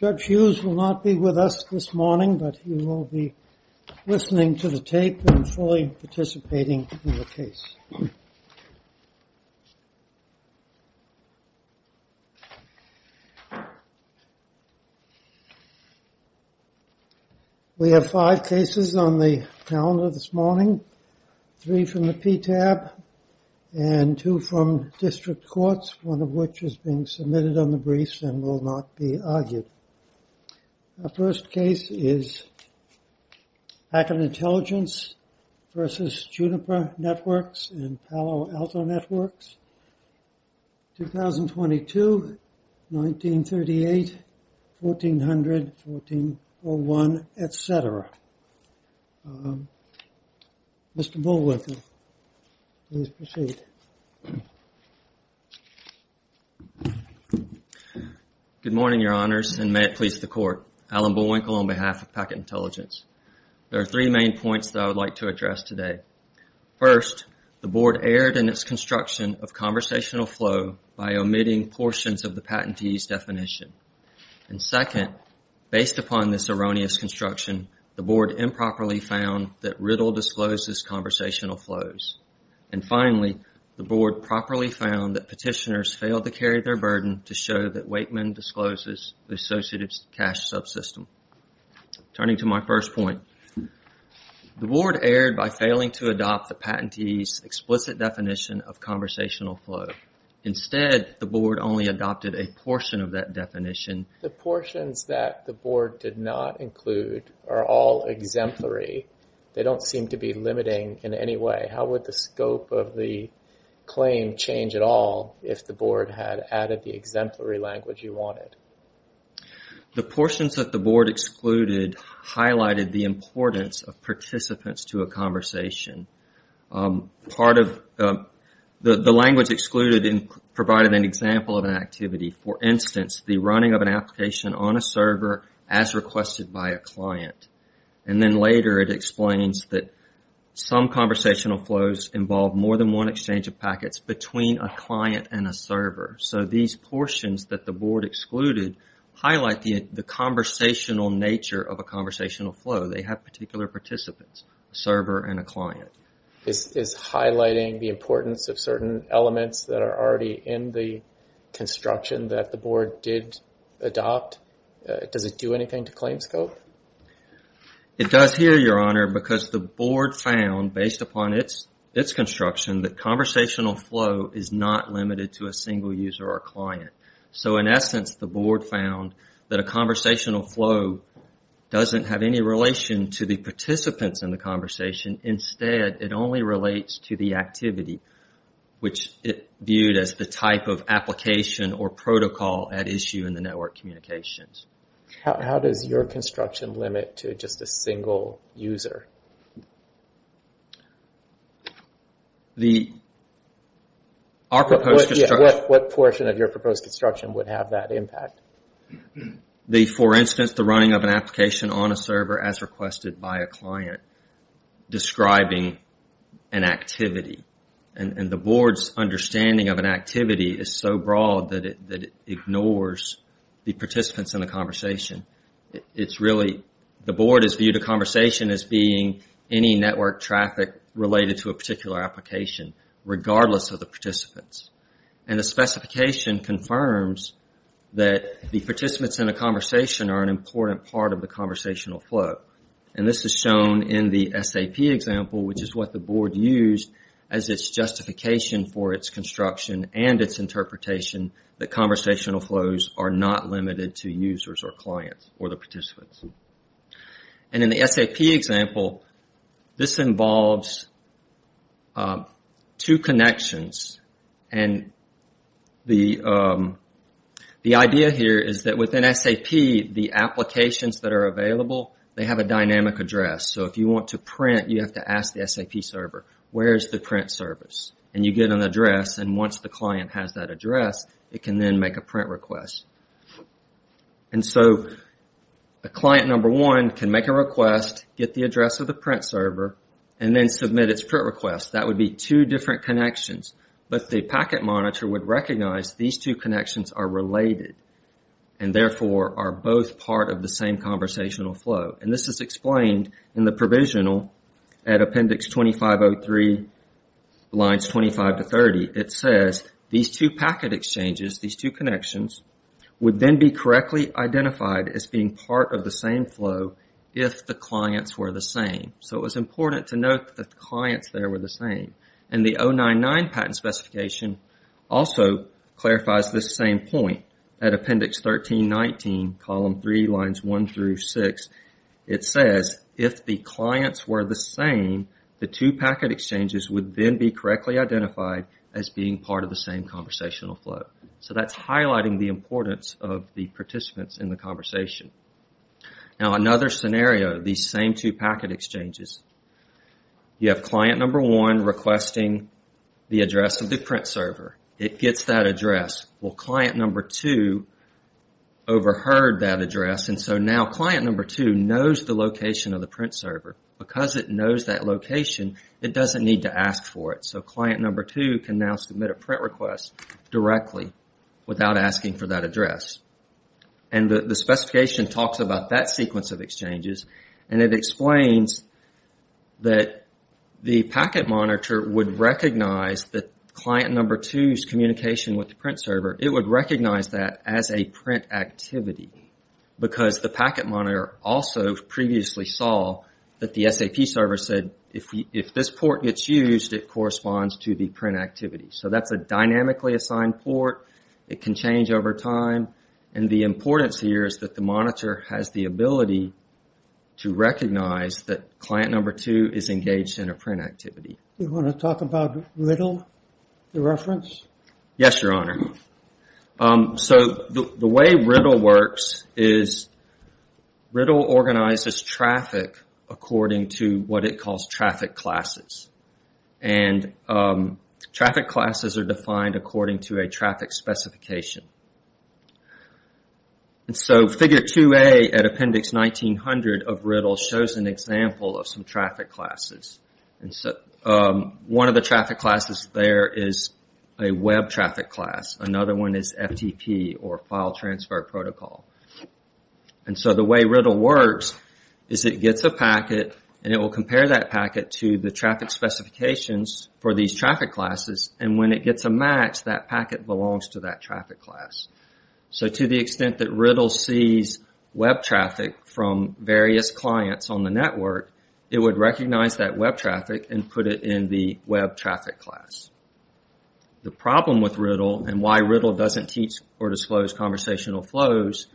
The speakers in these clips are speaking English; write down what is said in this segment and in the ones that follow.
Judge Hughes will not be with us this morning, but he will be listening to the tape and fully participating in the case. We have five cases on the calendar this morning, three from the PTAB and two from district courts, one of which is being submitted on the briefs and will not be argued. The first case is Hackett Intelligence v. Juniper Networks and Palo Alto Networks, 2022, 1938, 1400, 1401, etc. Mr. Bullwinkle, please proceed. Good morning, your honors, and may it please the court. Alan Bullwinkle on behalf of Hackett Intelligence. There are three main points that I would like to address today. First, the board erred in its construction of conversational flow by omitting portions of the patentee's definition. And second, based upon this erroneous construction, the board improperly found that Riddle discloses conversational flows. And finally, the board properly found that petitioners failed to carry their burden to show that Wakeman discloses the associated cash subsystem. Turning to my first point, the board erred by failing to adopt the patentee's explicit definition of conversational flow. Instead, the board only adopted a portion of that definition. The portions that the board did not include are all exemplary. They don't seem to be limiting in any way. How would the scope of the claim change at all if the board had added the exemplary language you wanted? The portions that the board excluded highlighted the importance of participants to a conversation. The language excluded provided an example of an activity. For instance, the running of an application on a server as requested by a client. And then later it explains that some conversational flows involve more than one exchange of packets between a client and a server. So these portions that the board excluded highlight the conversational nature of a conversational flow. They have particular participants, a server and a client. Is highlighting the importance of certain elements that are already in the construction that the board did adopt, does it do anything to claim scope? It does here, Your Honor, because the board found, based upon its construction, that conversational flow is not limited to a single user or client. So in essence, the board found that a conversational flow doesn't have any relation to the participants in the conversation. Instead, it only relates to the activity, which it viewed as the type of application or protocol at issue in the network communications. How does your construction limit to just a single user? What portion of your proposed construction would have that impact? For instance, the running of an application on a server as requested by a client describing an activity. The board's understanding of an activity is so broad that it ignores the participants in the conversation. The board has viewed a conversation as being any network traffic related to a particular application, regardless of the participants. And the specification confirms that the participants in a conversation are an important part of the conversational flow. And this is shown in the SAP example, which is what the board used as its justification for its construction and its interpretation that conversational flows are not limited to users or clients or the participants. And in the SAP example, this involves two connections. And the idea here is that within SAP, the applications that are available, they have a dynamic address. So if you want to print, you have to ask the SAP server, where is the print service? And you get an address, and once the client has that address, it can then make a print request. And so the client number one can make a request, get the address of the print server, and then submit its print request. That would be two different connections. But the packet monitor would recognize these two connections are related, and therefore are both part of the same conversational flow. And this is explained in the provisional at appendix 2503, lines 25 to 30. It says these two packet exchanges, these two connections, would then be correctly identified as being part of the same flow if the clients were the same. So it was important to note that the clients there were the same. And the 099 patent specification also clarifies this same point. At appendix 1319, column 3, lines 1 through 6, it says if the clients were the same, the two packet exchanges would then be correctly identified as being part of the same conversational flow. So that's highlighting the importance of the participants in the conversation. Now another scenario, these same two packet exchanges. You have client number one requesting the address of the print server. It gets that address. Well, client number two overheard that address, and so now client number two knows the location of the print server. Because it knows that location, it doesn't need to ask for it. So client number two can now submit a print request directly without asking for that address. And the specification talks about that sequence of exchanges. And it explains that the packet monitor would recognize that client number two's communication with the print server. It would recognize that as a print activity. Because the packet monitor also previously saw that the SAP server said if this port gets used, it corresponds to the print activity. So that's a dynamically assigned port. It can change over time. And the importance here is that the monitor has the ability to recognize that client number two is engaged in a print activity. You want to talk about RIDDLE, the reference? Yes, Your Honor. So the way RIDDLE works is RIDDLE organizes traffic according to what it calls traffic classes. And traffic classes are defined according to a traffic specification. And so figure 2A at appendix 1900 of RIDDLE shows an example of some traffic classes. One of the traffic classes there is a web traffic class. Another one is FTP, or file transfer protocol. And so the way RIDDLE works is it gets a packet and it will compare that packet to the traffic specifications for these traffic classes. And when it gets a match, that packet belongs to that traffic class. So to the extent that RIDDLE sees web traffic from various clients on the network, it would recognize that web traffic and put it in the web traffic class. The problem with RIDDLE and why RIDDLE doesn't teach or disclose conversational flows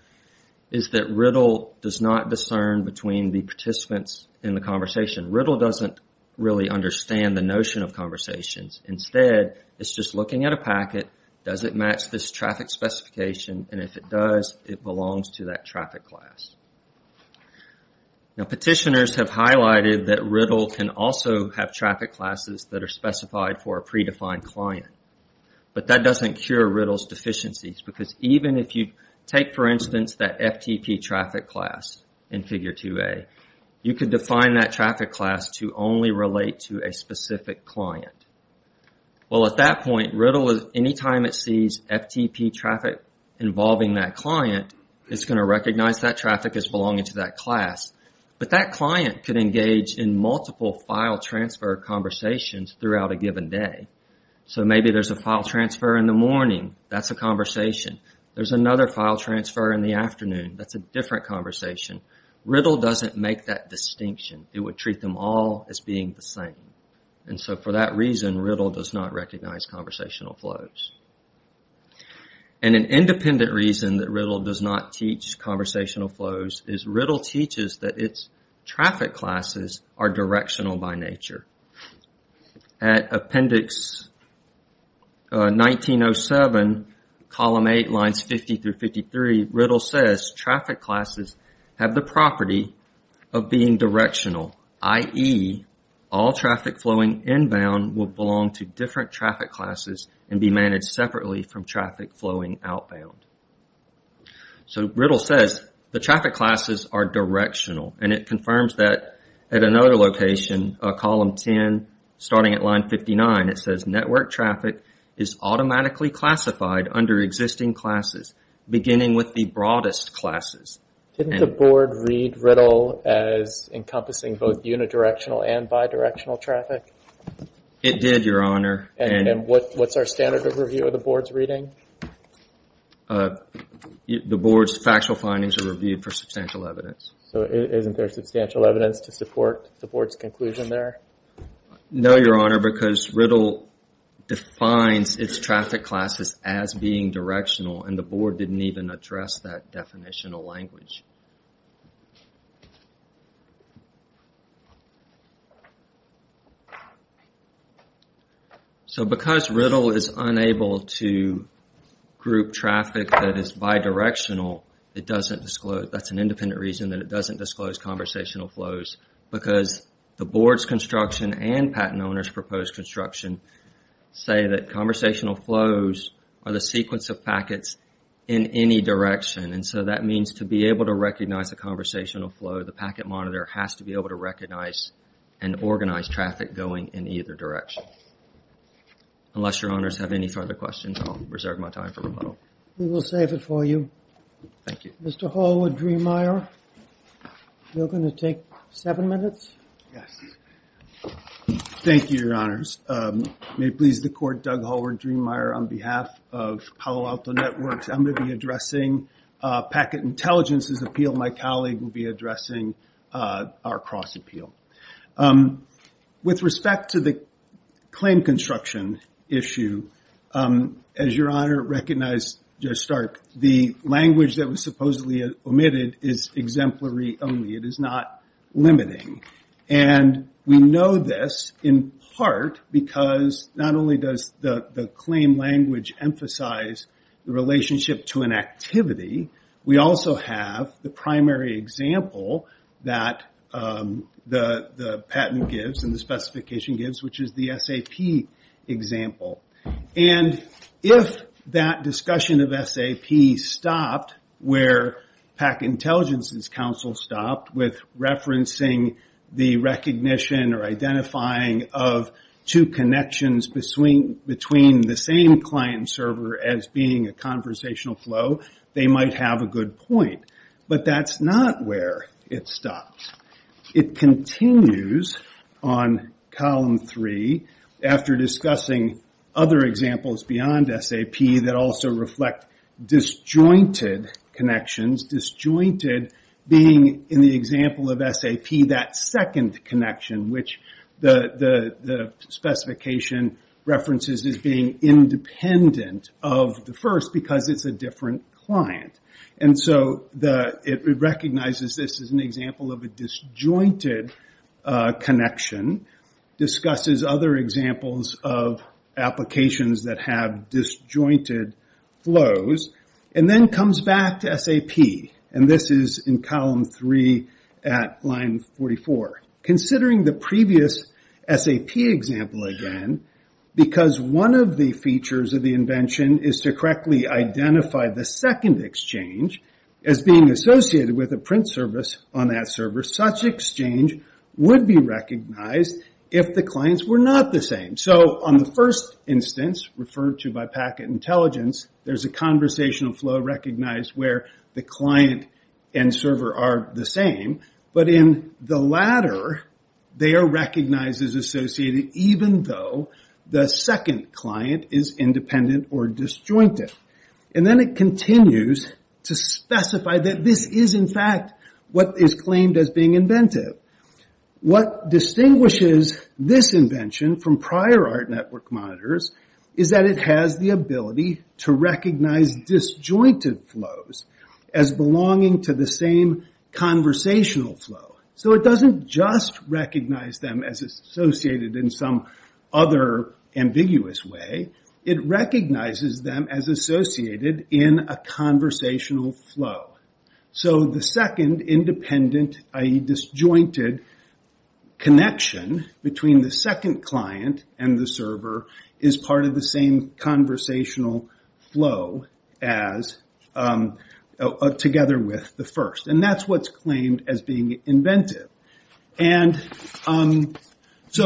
is that RIDDLE does not discern between the participants in the conversation. RIDDLE doesn't really understand the notion of conversations. Instead, it's just looking at a packet. Does it match this traffic specification? And if it does, it belongs to that traffic class. Petitioners have highlighted that RIDDLE can also have traffic classes that are specified for a predefined client. But that doesn't cure RIDDLE's deficiencies. Because even if you take, for instance, that FTP traffic class in Figure 2a, you could define that traffic class to only relate to a specific client. Well, at that point, RIDDLE, anytime it sees FTP traffic involving that client, it's going to recognize that traffic as belonging to that class. But that client could engage in multiple file transfer conversations throughout a given day. So maybe there's a file transfer in the morning. That's a conversation. There's another file transfer in the afternoon. That's a different conversation. RIDDLE doesn't make that distinction. It would treat them all as being the same. And so for that reason, RIDDLE does not recognize conversational flows. And an independent reason that RIDDLE does not teach conversational flows is RIDDLE teaches that its traffic classes are directional by nature. At Appendix 1907, Column 8, Lines 50 through 53, RIDDLE says traffic classes have the property of being directional. I.e., all traffic flowing inbound will belong to different traffic classes and be managed separately from traffic flowing outbound. So RIDDLE says the traffic classes are directional. And it confirms that at another location, Column 10, starting at Line 59, it says network traffic is automatically classified under existing classes, beginning with the broadest classes. Didn't the Board read RIDDLE as encompassing both unidirectional and bidirectional traffic? It did, Your Honor. And what's our standard of review of the Board's reading? The Board's factual findings are reviewed for substantial evidence. So isn't there substantial evidence to support the Board's conclusion there? No, Your Honor, because RIDDLE defines its traffic classes as being directional, and the Board didn't even address that definitional language. So because RIDDLE is unable to group traffic that is bidirectional, that's an independent reason that it doesn't disclose conversational flows, because the Board's construction and Patent Owners' proposed construction say that conversational flows are the sequence of packets in any direction. And so that means to be able to recognize a conversational flow, the packet monitor has to be able to recognize and organize traffic going in either direction. Unless Your Honors have any further questions, I'll reserve my time for rebuttal. We will save it for you. Thank you. Mr. Hallwood-Driemeier, you're going to take seven minutes? Yes. Thank you, Your Honors. May it please the Court, Doug Hallwood-Driemeier, on behalf of Palo Alto Networks. I'm going to be addressing packet intelligence's appeal. My colleague will be addressing our cross-appeal. With respect to the claim construction issue, as Your Honor recognized at the start, the language that was supposedly omitted is exemplary only. It is not limiting. We know this in part because not only does the claim language emphasize the relationship to an activity, we also have the primary example that the patent gives and the specification gives, which is the SAP example. If that discussion of SAP stopped where Packet Intelligence's counsel stopped with referencing the recognition or identifying of two connections between the same client and server as being a conversational flow, they might have a good point. But that's not where it stops. It continues on Column 3 after discussing other examples beyond SAP that also reflect disjointed connections, disjointed being in the example of SAP that second connection, which the specification references as being independent of the first because it's a different client. It recognizes this as an example of a disjointed connection, discusses other examples of applications that have disjointed flows, and then comes back to SAP. This is in Column 3 at line 44. Considering the previous SAP example again, because one of the features of the invention is to correctly identify the second exchange as being associated with a print service on that server, such exchange would be recognized if the clients were not the same. On the first instance, referred to by Packet Intelligence, there's a conversational flow recognized where the client and server are the same. But in the latter, they are recognized as associated even though the second client is independent or disjointed. And then it continues to specify that this is, in fact, what is claimed as being inventive. What distinguishes this invention from prior ART Network monitors is that it has the ability to recognize disjointed flows as belonging to the same conversational flow. So it doesn't just recognize them as associated in some other ambiguous way. It recognizes them as associated in a conversational flow. So the second independent, i.e., disjointed connection between the second client and the server is part of the same conversational flow together with the first. And that's what's claimed as being inventive. So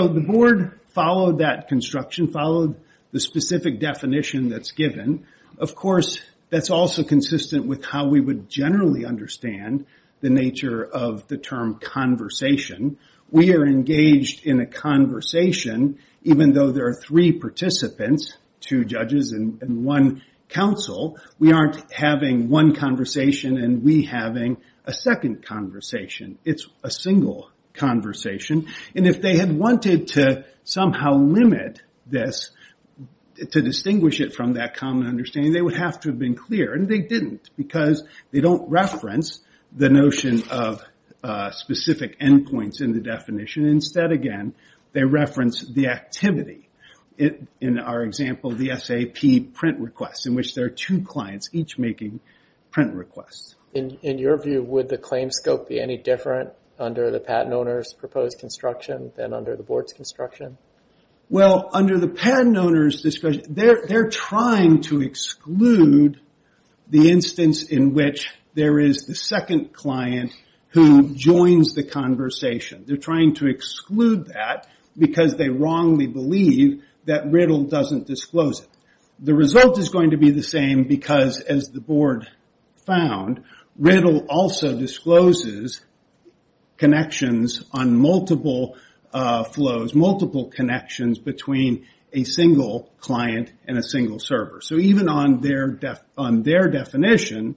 the board followed that construction, followed the specific definition that's given. Of course, that's also consistent with how we would generally understand the nature of the term conversation. We are engaged in a conversation even though there are three participants, two judges and one counsel. We aren't having one conversation and we having a second conversation. It's a single conversation. And if they had wanted to somehow limit this, to distinguish it from that common understanding, they would have to have been clear. And they didn't because they don't reference the notion of points in the definition. Instead, again, they reference the activity. In our example, the SAP print request, in which there are two clients each making print requests. In your view, would the claim scope be any different under the patent owner's proposed construction than under the board's construction? Well, under the patent owner's description, they're trying to exclude the instance in which there is the second client who joins the conversation. They're trying to exclude that because they wrongly believe that RIDDLE doesn't disclose it. The result is going to be the same because, as the board found, RIDDLE also discloses connections on multiple flows, multiple connections between a single client and a single server. So even on their definition,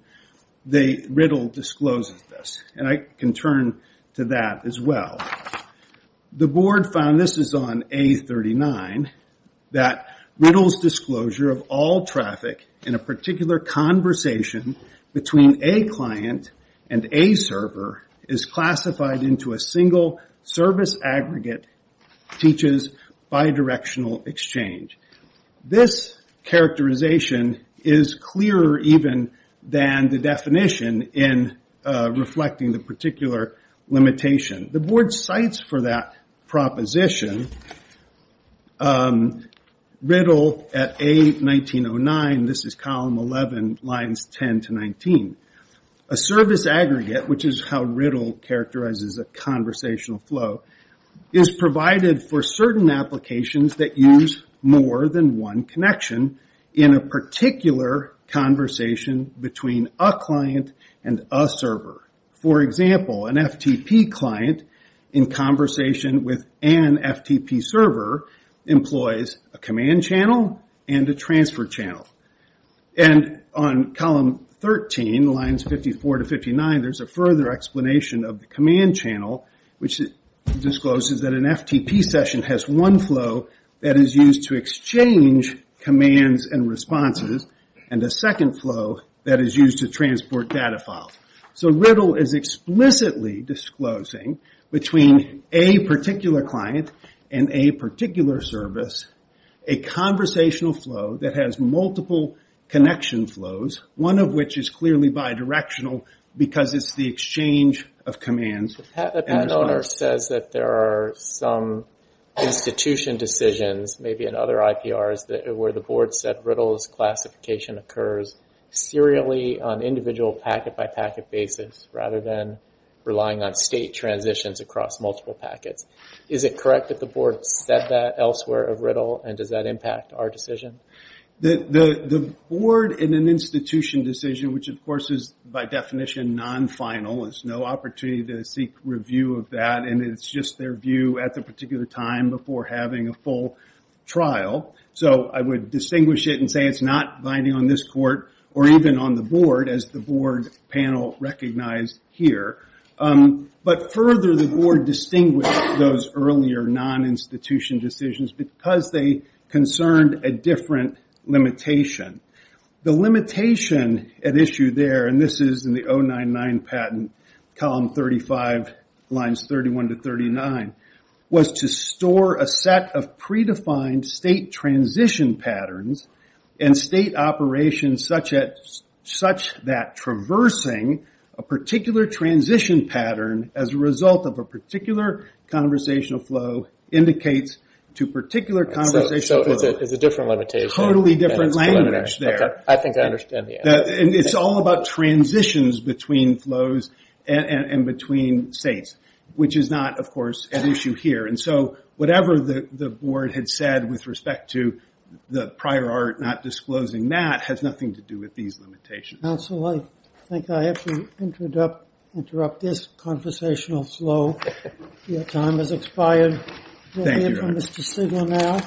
RIDDLE discloses this. And I can turn to that as well. The board found, this is on A39, that RIDDLE's disclosure of all traffic in a particular conversation between a client and a server is classified into a single service aggregate teaches bidirectional exchange. This characterization is clearer even than the definition in reflecting the particular limitation. The board cites for that proposition, RIDDLE at A1909, this is column 11, lines 10 to 19, a service aggregate, which is how RIDDLE characterizes a conversational flow, is provided for certain applications that use more than one connection in a particular conversation between a client and a server. For example, an FTP client in conversation with an FTP server employs a command channel and a transfer channel. And on column 13, lines 54 to 59, there's a further explanation of the command channel, which discloses that an FTP session has one flow that is used to exchange commands and responses, and a second flow that is used to transport data files. So RIDDLE is explicitly disclosing between a particular client and a particular service a conversational flow that has multiple connection flows, one of which is clearly bidirectional because it's the exchange of commands. The patent owner says that there are some institution decisions, maybe in other IPRs, where the board said RIDDLE's classification occurs serially on individual packet-by-packet basis, rather than relying on state transitions across multiple packets. Is it correct that the board said that elsewhere of RIDDLE, and does that impact our decision? The board in an institution decision, which of course is by definition non-final, there's no opportunity to seek review of that, and it's just their view at the particular time before having a full trial. So I would distinguish it and say it's not binding on this court, or even on the board, as the board panel recognized here. But further, the board distinguished those earlier non-institution decisions because they concerned a different limitation. The limitation at issue there, and this is in the 099 patent, column 35, lines 31 to 39, was to store a set of predefined state transition patterns and state operations such that traversing a particular transition pattern as a result of a particular conversational flow indicates to particular conversational flow. So it's a different limitation. Totally different language there. I think I understand the answer. And it's all about transitions between flows and between states, which is not, of course, an issue here. And so whatever the board had said with respect to the prior art not disclosing that has nothing to do with these limitations. I think I have to interrupt this conversational flow. Your time has expired. We'll hear from Mr. Sigler now.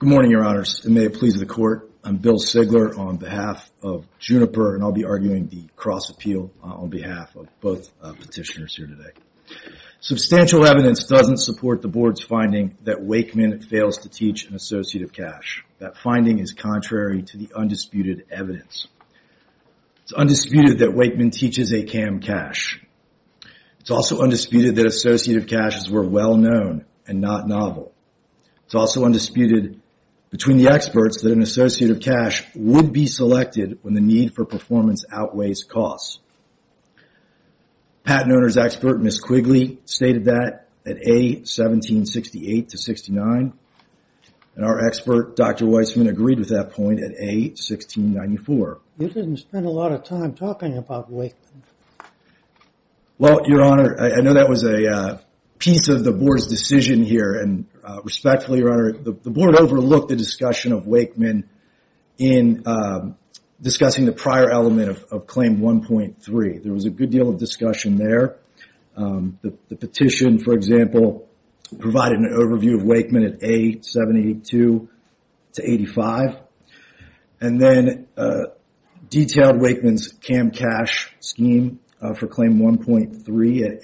Good morning, Your Honors, and may it please the court. And I'll be arguing the cross appeal on behalf of both petitioners here today. Substantial evidence doesn't support the board's finding that Wakeman fails to teach an associative cache. That finding is contrary to the undisputed evidence. It's undisputed that Wakeman teaches a CAM cache. It's also undisputed that associative caches were well-known and not novel. It's also undisputed between the experts that an associative cache would be selected when the need for performance outweighs cost. Patent owner's expert, Ms. Quigley, stated that at A1768-69. And our expert, Dr. Weissman, agreed with that point at A1694. You didn't spend a lot of time talking about Wakeman. Well, Your Honor, I know that was a piece of the board's decision here. And respectfully, Your Honor, the board overlooked the discussion of Wakeman in discussing the prior element of Claim 1.3. There was a good deal of discussion there. The petition, for example, provided an overview of Wakeman at A782-85. And then detailed Wakeman's CAM cache scheme for Claim 1.3 at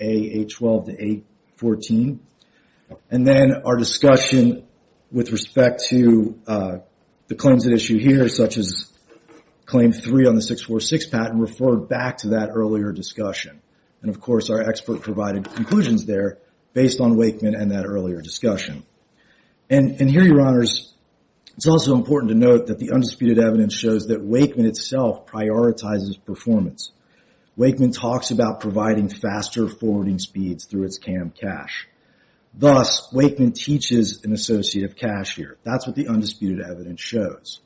A812-814. And then our discussion with respect to the claims at issue here, such as Claim 3 on the 646 patent, referred back to that earlier discussion. And, of course, our expert provided conclusions there based on Wakeman and that earlier discussion. And here, Your Honors, it's also important to note that the undisputed evidence shows that Wakeman itself prioritizes performance. Wakeman talks about providing faster forwarding speeds through its CAM cache. Thus, Wakeman teaches an associative cache here. That's what the undisputed evidence shows.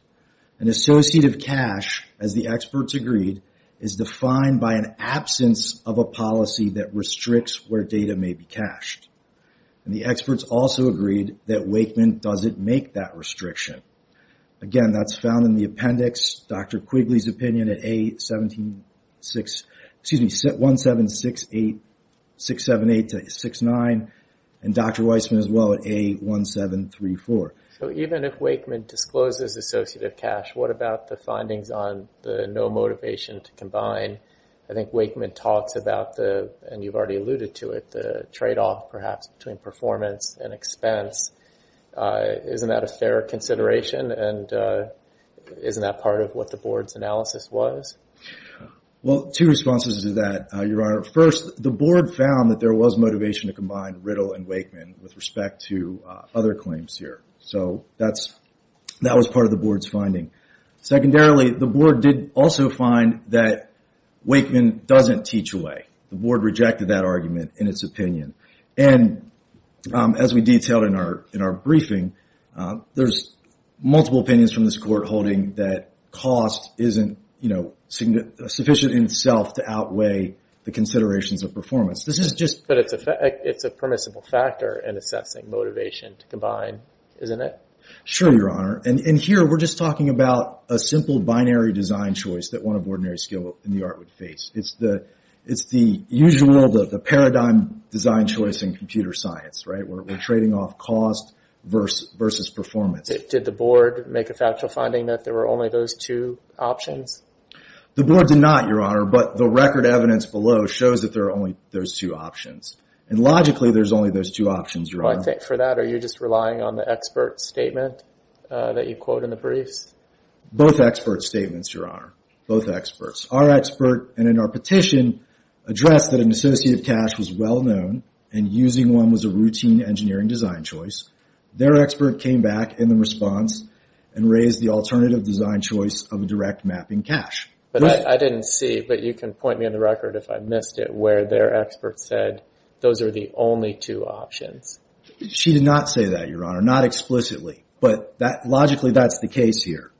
An associative cache, as the experts agreed, is defined by an absence of a policy that restricts where data may be cached. And the experts also agreed that Wakeman doesn't make that restriction. Again, that's found in the appendix. Dr. Quigley's opinion at A1768-69, and Dr. Weissman as well at A1734. So even if Wakeman discloses associative cache, what about the findings on the no motivation to combine? I think Wakeman talks about the, and you've already alluded to it, the tradeoff, perhaps, between performance and expense. Isn't that a fair consideration? And isn't that part of what the board's analysis was? Well, two responses to that, Your Honor. First, the board found that there was motivation to combine Riddle and Wakeman with respect to other claims here. So that was part of the board's finding. Secondarily, the board did also find that Wakeman doesn't teach away. The board rejected that argument in its opinion. And as we detailed in our briefing, there's multiple opinions from this court holding that cost isn't sufficient in itself to outweigh the considerations of performance. But it's a permissible factor in assessing motivation to combine, isn't it? Sure, Your Honor. And here we're just talking about a simple binary design choice that one of ordinary skill in the art would face. It's the usual, the paradigm design choice in computer science, right? We're trading off cost versus performance. Did the board make a factual finding that there were only those two options? The board did not, Your Honor. But the record evidence below shows that there are only those two options. And logically, there's only those two options, Your Honor. Well, I think for that, are you just relying on the expert statement that you quote in the briefs? Both expert statements, Your Honor. Both experts. Our expert and in our petition addressed that an associative cache was well-known and using one was a routine engineering design choice. Their expert came back in the response and raised the alternative design choice of a direct mapping cache. But I didn't see, but you can point me on the record if I missed it, where their expert said those are the only two options. She did not say that, Your Honor. Not explicitly. But logically, that's the case here.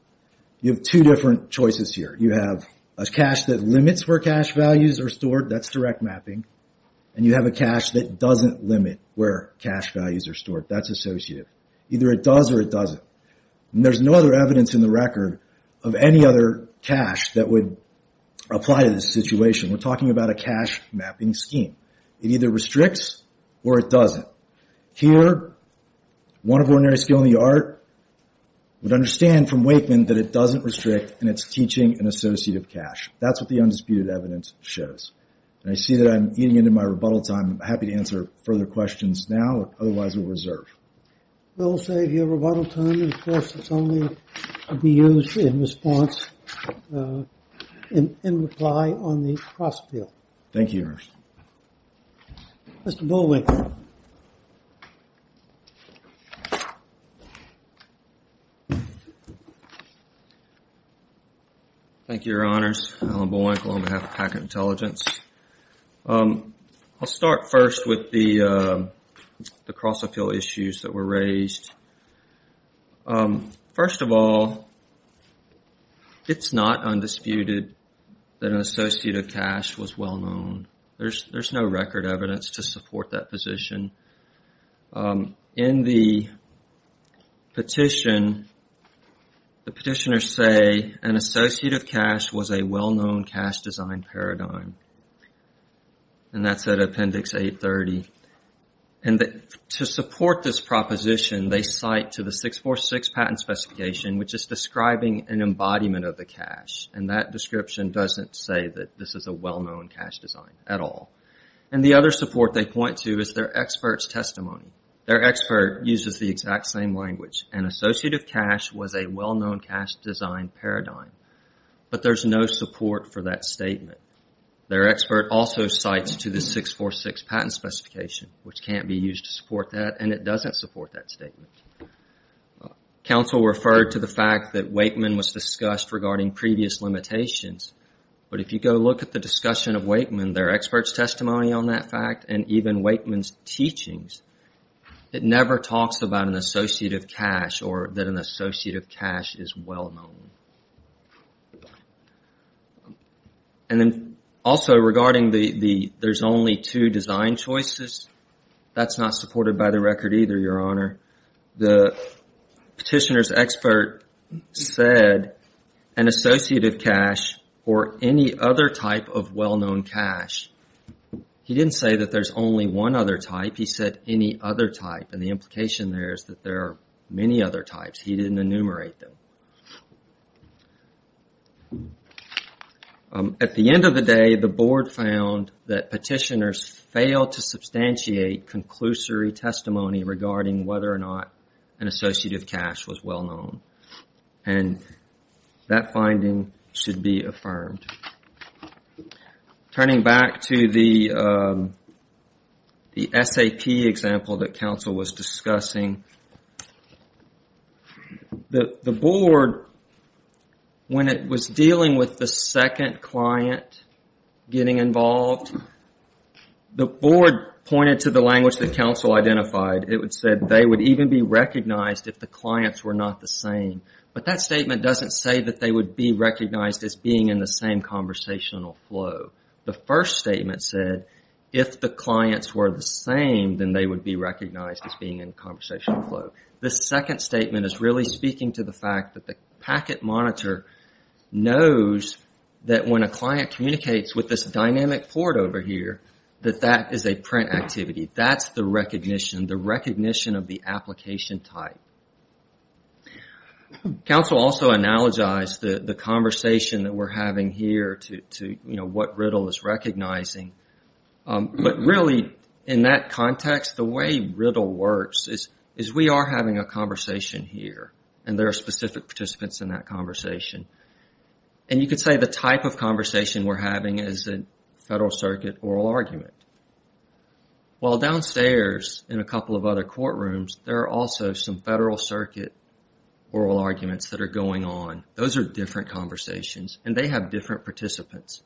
You have two different choices here. You have a cache that limits where cache values are stored. That's direct mapping. And you have a cache that doesn't limit where cache values are stored. That's associative. Either it does or it doesn't. And there's no other evidence in the record of any other cache that would apply to this situation. We're talking about a cache mapping scheme. It either restricts or it doesn't. Here, one of ordinary skill in the art would understand from Wakeman that it doesn't restrict and it's teaching an associative cache. That's what the undisputed evidence shows. And I see that I'm eating into my rebuttal time. I'm happy to answer further questions now. Otherwise, we'll reserve. We'll save your rebuttal time. Of course, it's only to be used in response in reply on the cross field. Thank you, Your Honor. Mr. Bullwinkle. Thank you, Your Honors. Alan Bullwinkle on behalf of Packard Intelligence. I'll start first with the cross appeal issues that were raised. First of all, it's not undisputed that an associative cache was well known. There's no record evidence to support that position. In the petition, the petitioners say an associative cache was a well-known cache design paradigm. And that's at Appendix 830. To support this proposition, they cite to the 646 patent specification, which is describing an embodiment of the cache. And that description doesn't say that this is a well-known cache design at all. And the other support they point to is their expert's testimony. Their expert uses the exact same language. An associative cache was a well-known cache design paradigm. But there's no support for that statement. Their expert also cites to the 646 patent specification, which can't be used to support that, and it doesn't support that statement. Counsel referred to the fact that Wakeman was discussed regarding previous limitations. But if you go look at the discussion of Wakeman, their expert's testimony on that fact, and even Wakeman's teachings, it never talks about an associative cache or that an associative cache is well-known. And then also regarding the there's only two design choices, that's not supported by the record either, Your Honor. The petitioner's expert said an associative cache or any other type of well-known cache, he didn't say that there's only one other type. He said any other type. And the implication there is that there are many other types. He didn't enumerate them. At the end of the day, the board found that petitioners failed to substantiate conclusory testimony regarding whether or not an associative cache was well-known. And that finding should be affirmed. Turning back to the SAP example that counsel was discussing, the board, when it was dealing with the second client getting involved, the board pointed to the language that counsel identified. It said they would even be recognized if the clients were not the same. But that statement doesn't say that they would be recognized as being in the same conversational flow. The first statement said if the clients were the same, then they would be recognized as being in conversational flow. The second statement is really speaking to the fact that the packet monitor knows that when a client communicates with this dynamic port over here, that that is a print activity. That's the recognition, the recognition of the application type. Counsel also analogized the conversation that we're having here to what Riddle is recognizing. But really in that context, the way Riddle works is we are having a conversation here and there are specific participants in that conversation. And you could say the type of conversation we're having is a federal circuit oral argument. While downstairs in a couple of other courtrooms, there are also some federal circuit oral arguments that are going on. Those are different conversations and they have different participants.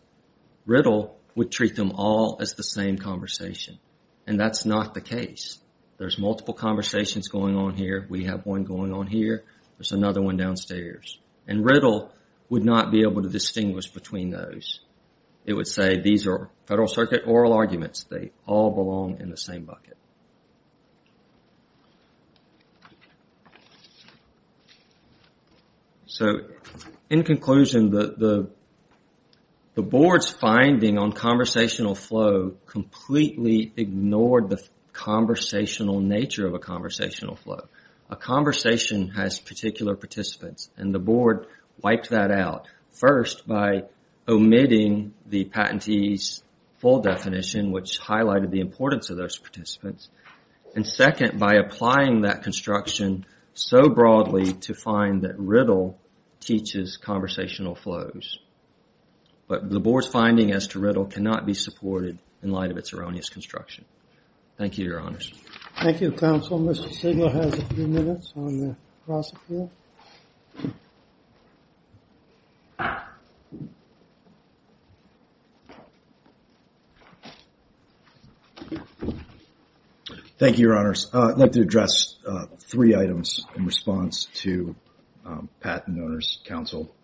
Riddle would treat them all as the same conversation. And that's not the case. There's multiple conversations going on here. We have one going on here. There's another one downstairs. And Riddle would not be able to distinguish between those. It would say these are federal circuit oral arguments. They all belong in the same bucket. So in conclusion, the board's finding on conversational flow completely ignored the conversational nature of a conversational flow. A conversation has particular participants and the board wiped that out. First, by omitting the patentee's full definition, which highlighted the importance of those participants. And second, by applying that construction so broadly to find that Riddle teaches conversational flows. But the board's finding as to Riddle cannot be supported in light of its erroneous construction. Thank you, Your Honors. Thank you, Counsel. Mr. Sigler has a few minutes on the cross-appeal. Thank you, Your Honors. I'd like to address three items in response to Patent Owners' Counsel.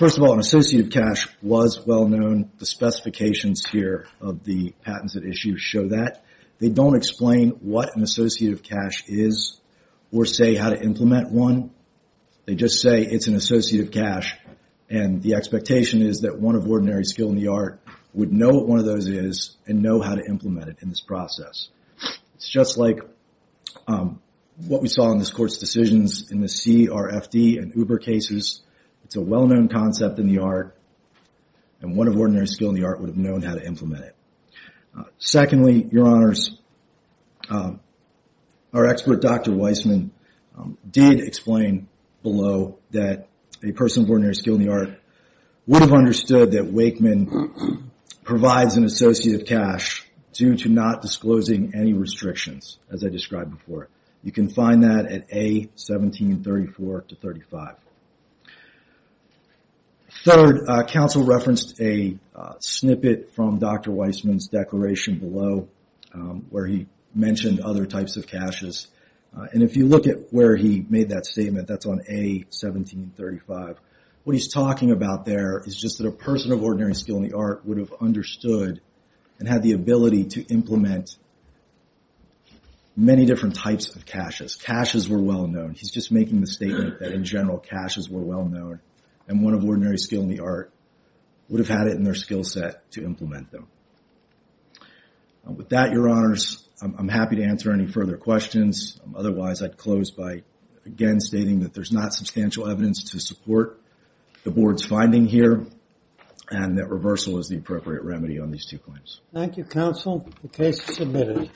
First of all, an associative cash was well known. The specifications here of the patents at issue show that. They don't explain what an associative cash is or say how to implement one. They just say it's an associative cash and the expectation is that one of ordinary skill in the art would know what one of those is and know how to implement it in this process. It's just like what we saw in this Court's decisions in the CRFD and Uber cases. It's a well-known concept in the art and one of ordinary skill in the art would have known how to implement it. Secondly, Your Honors, our expert, Dr. Weissman, did explain below that a person of ordinary skill in the art would have understood that Wakeman provides an associative cash due to not disclosing any restrictions, as I described before. You can find that at A1734-35. Third, counsel referenced a snippet from Dr. Weissman's declaration below where he mentioned other types of caches. If you look at where he made that statement, that's on A1735. What he's talking about there is just that a person of ordinary skill in the art would have understood and had the ability to implement many different types of caches. Caches were well known. He's just making the statement that in general caches were well known and one of ordinary skill in the art would have had it in their skill set to implement them. With that, Your Honors, I'm happy to answer any further questions. Otherwise, I'd close by again stating that there's not substantial evidence to support the Board's finding here and that reversal is the appropriate remedy on these two claims. Thank you, counsel. The case is submitted.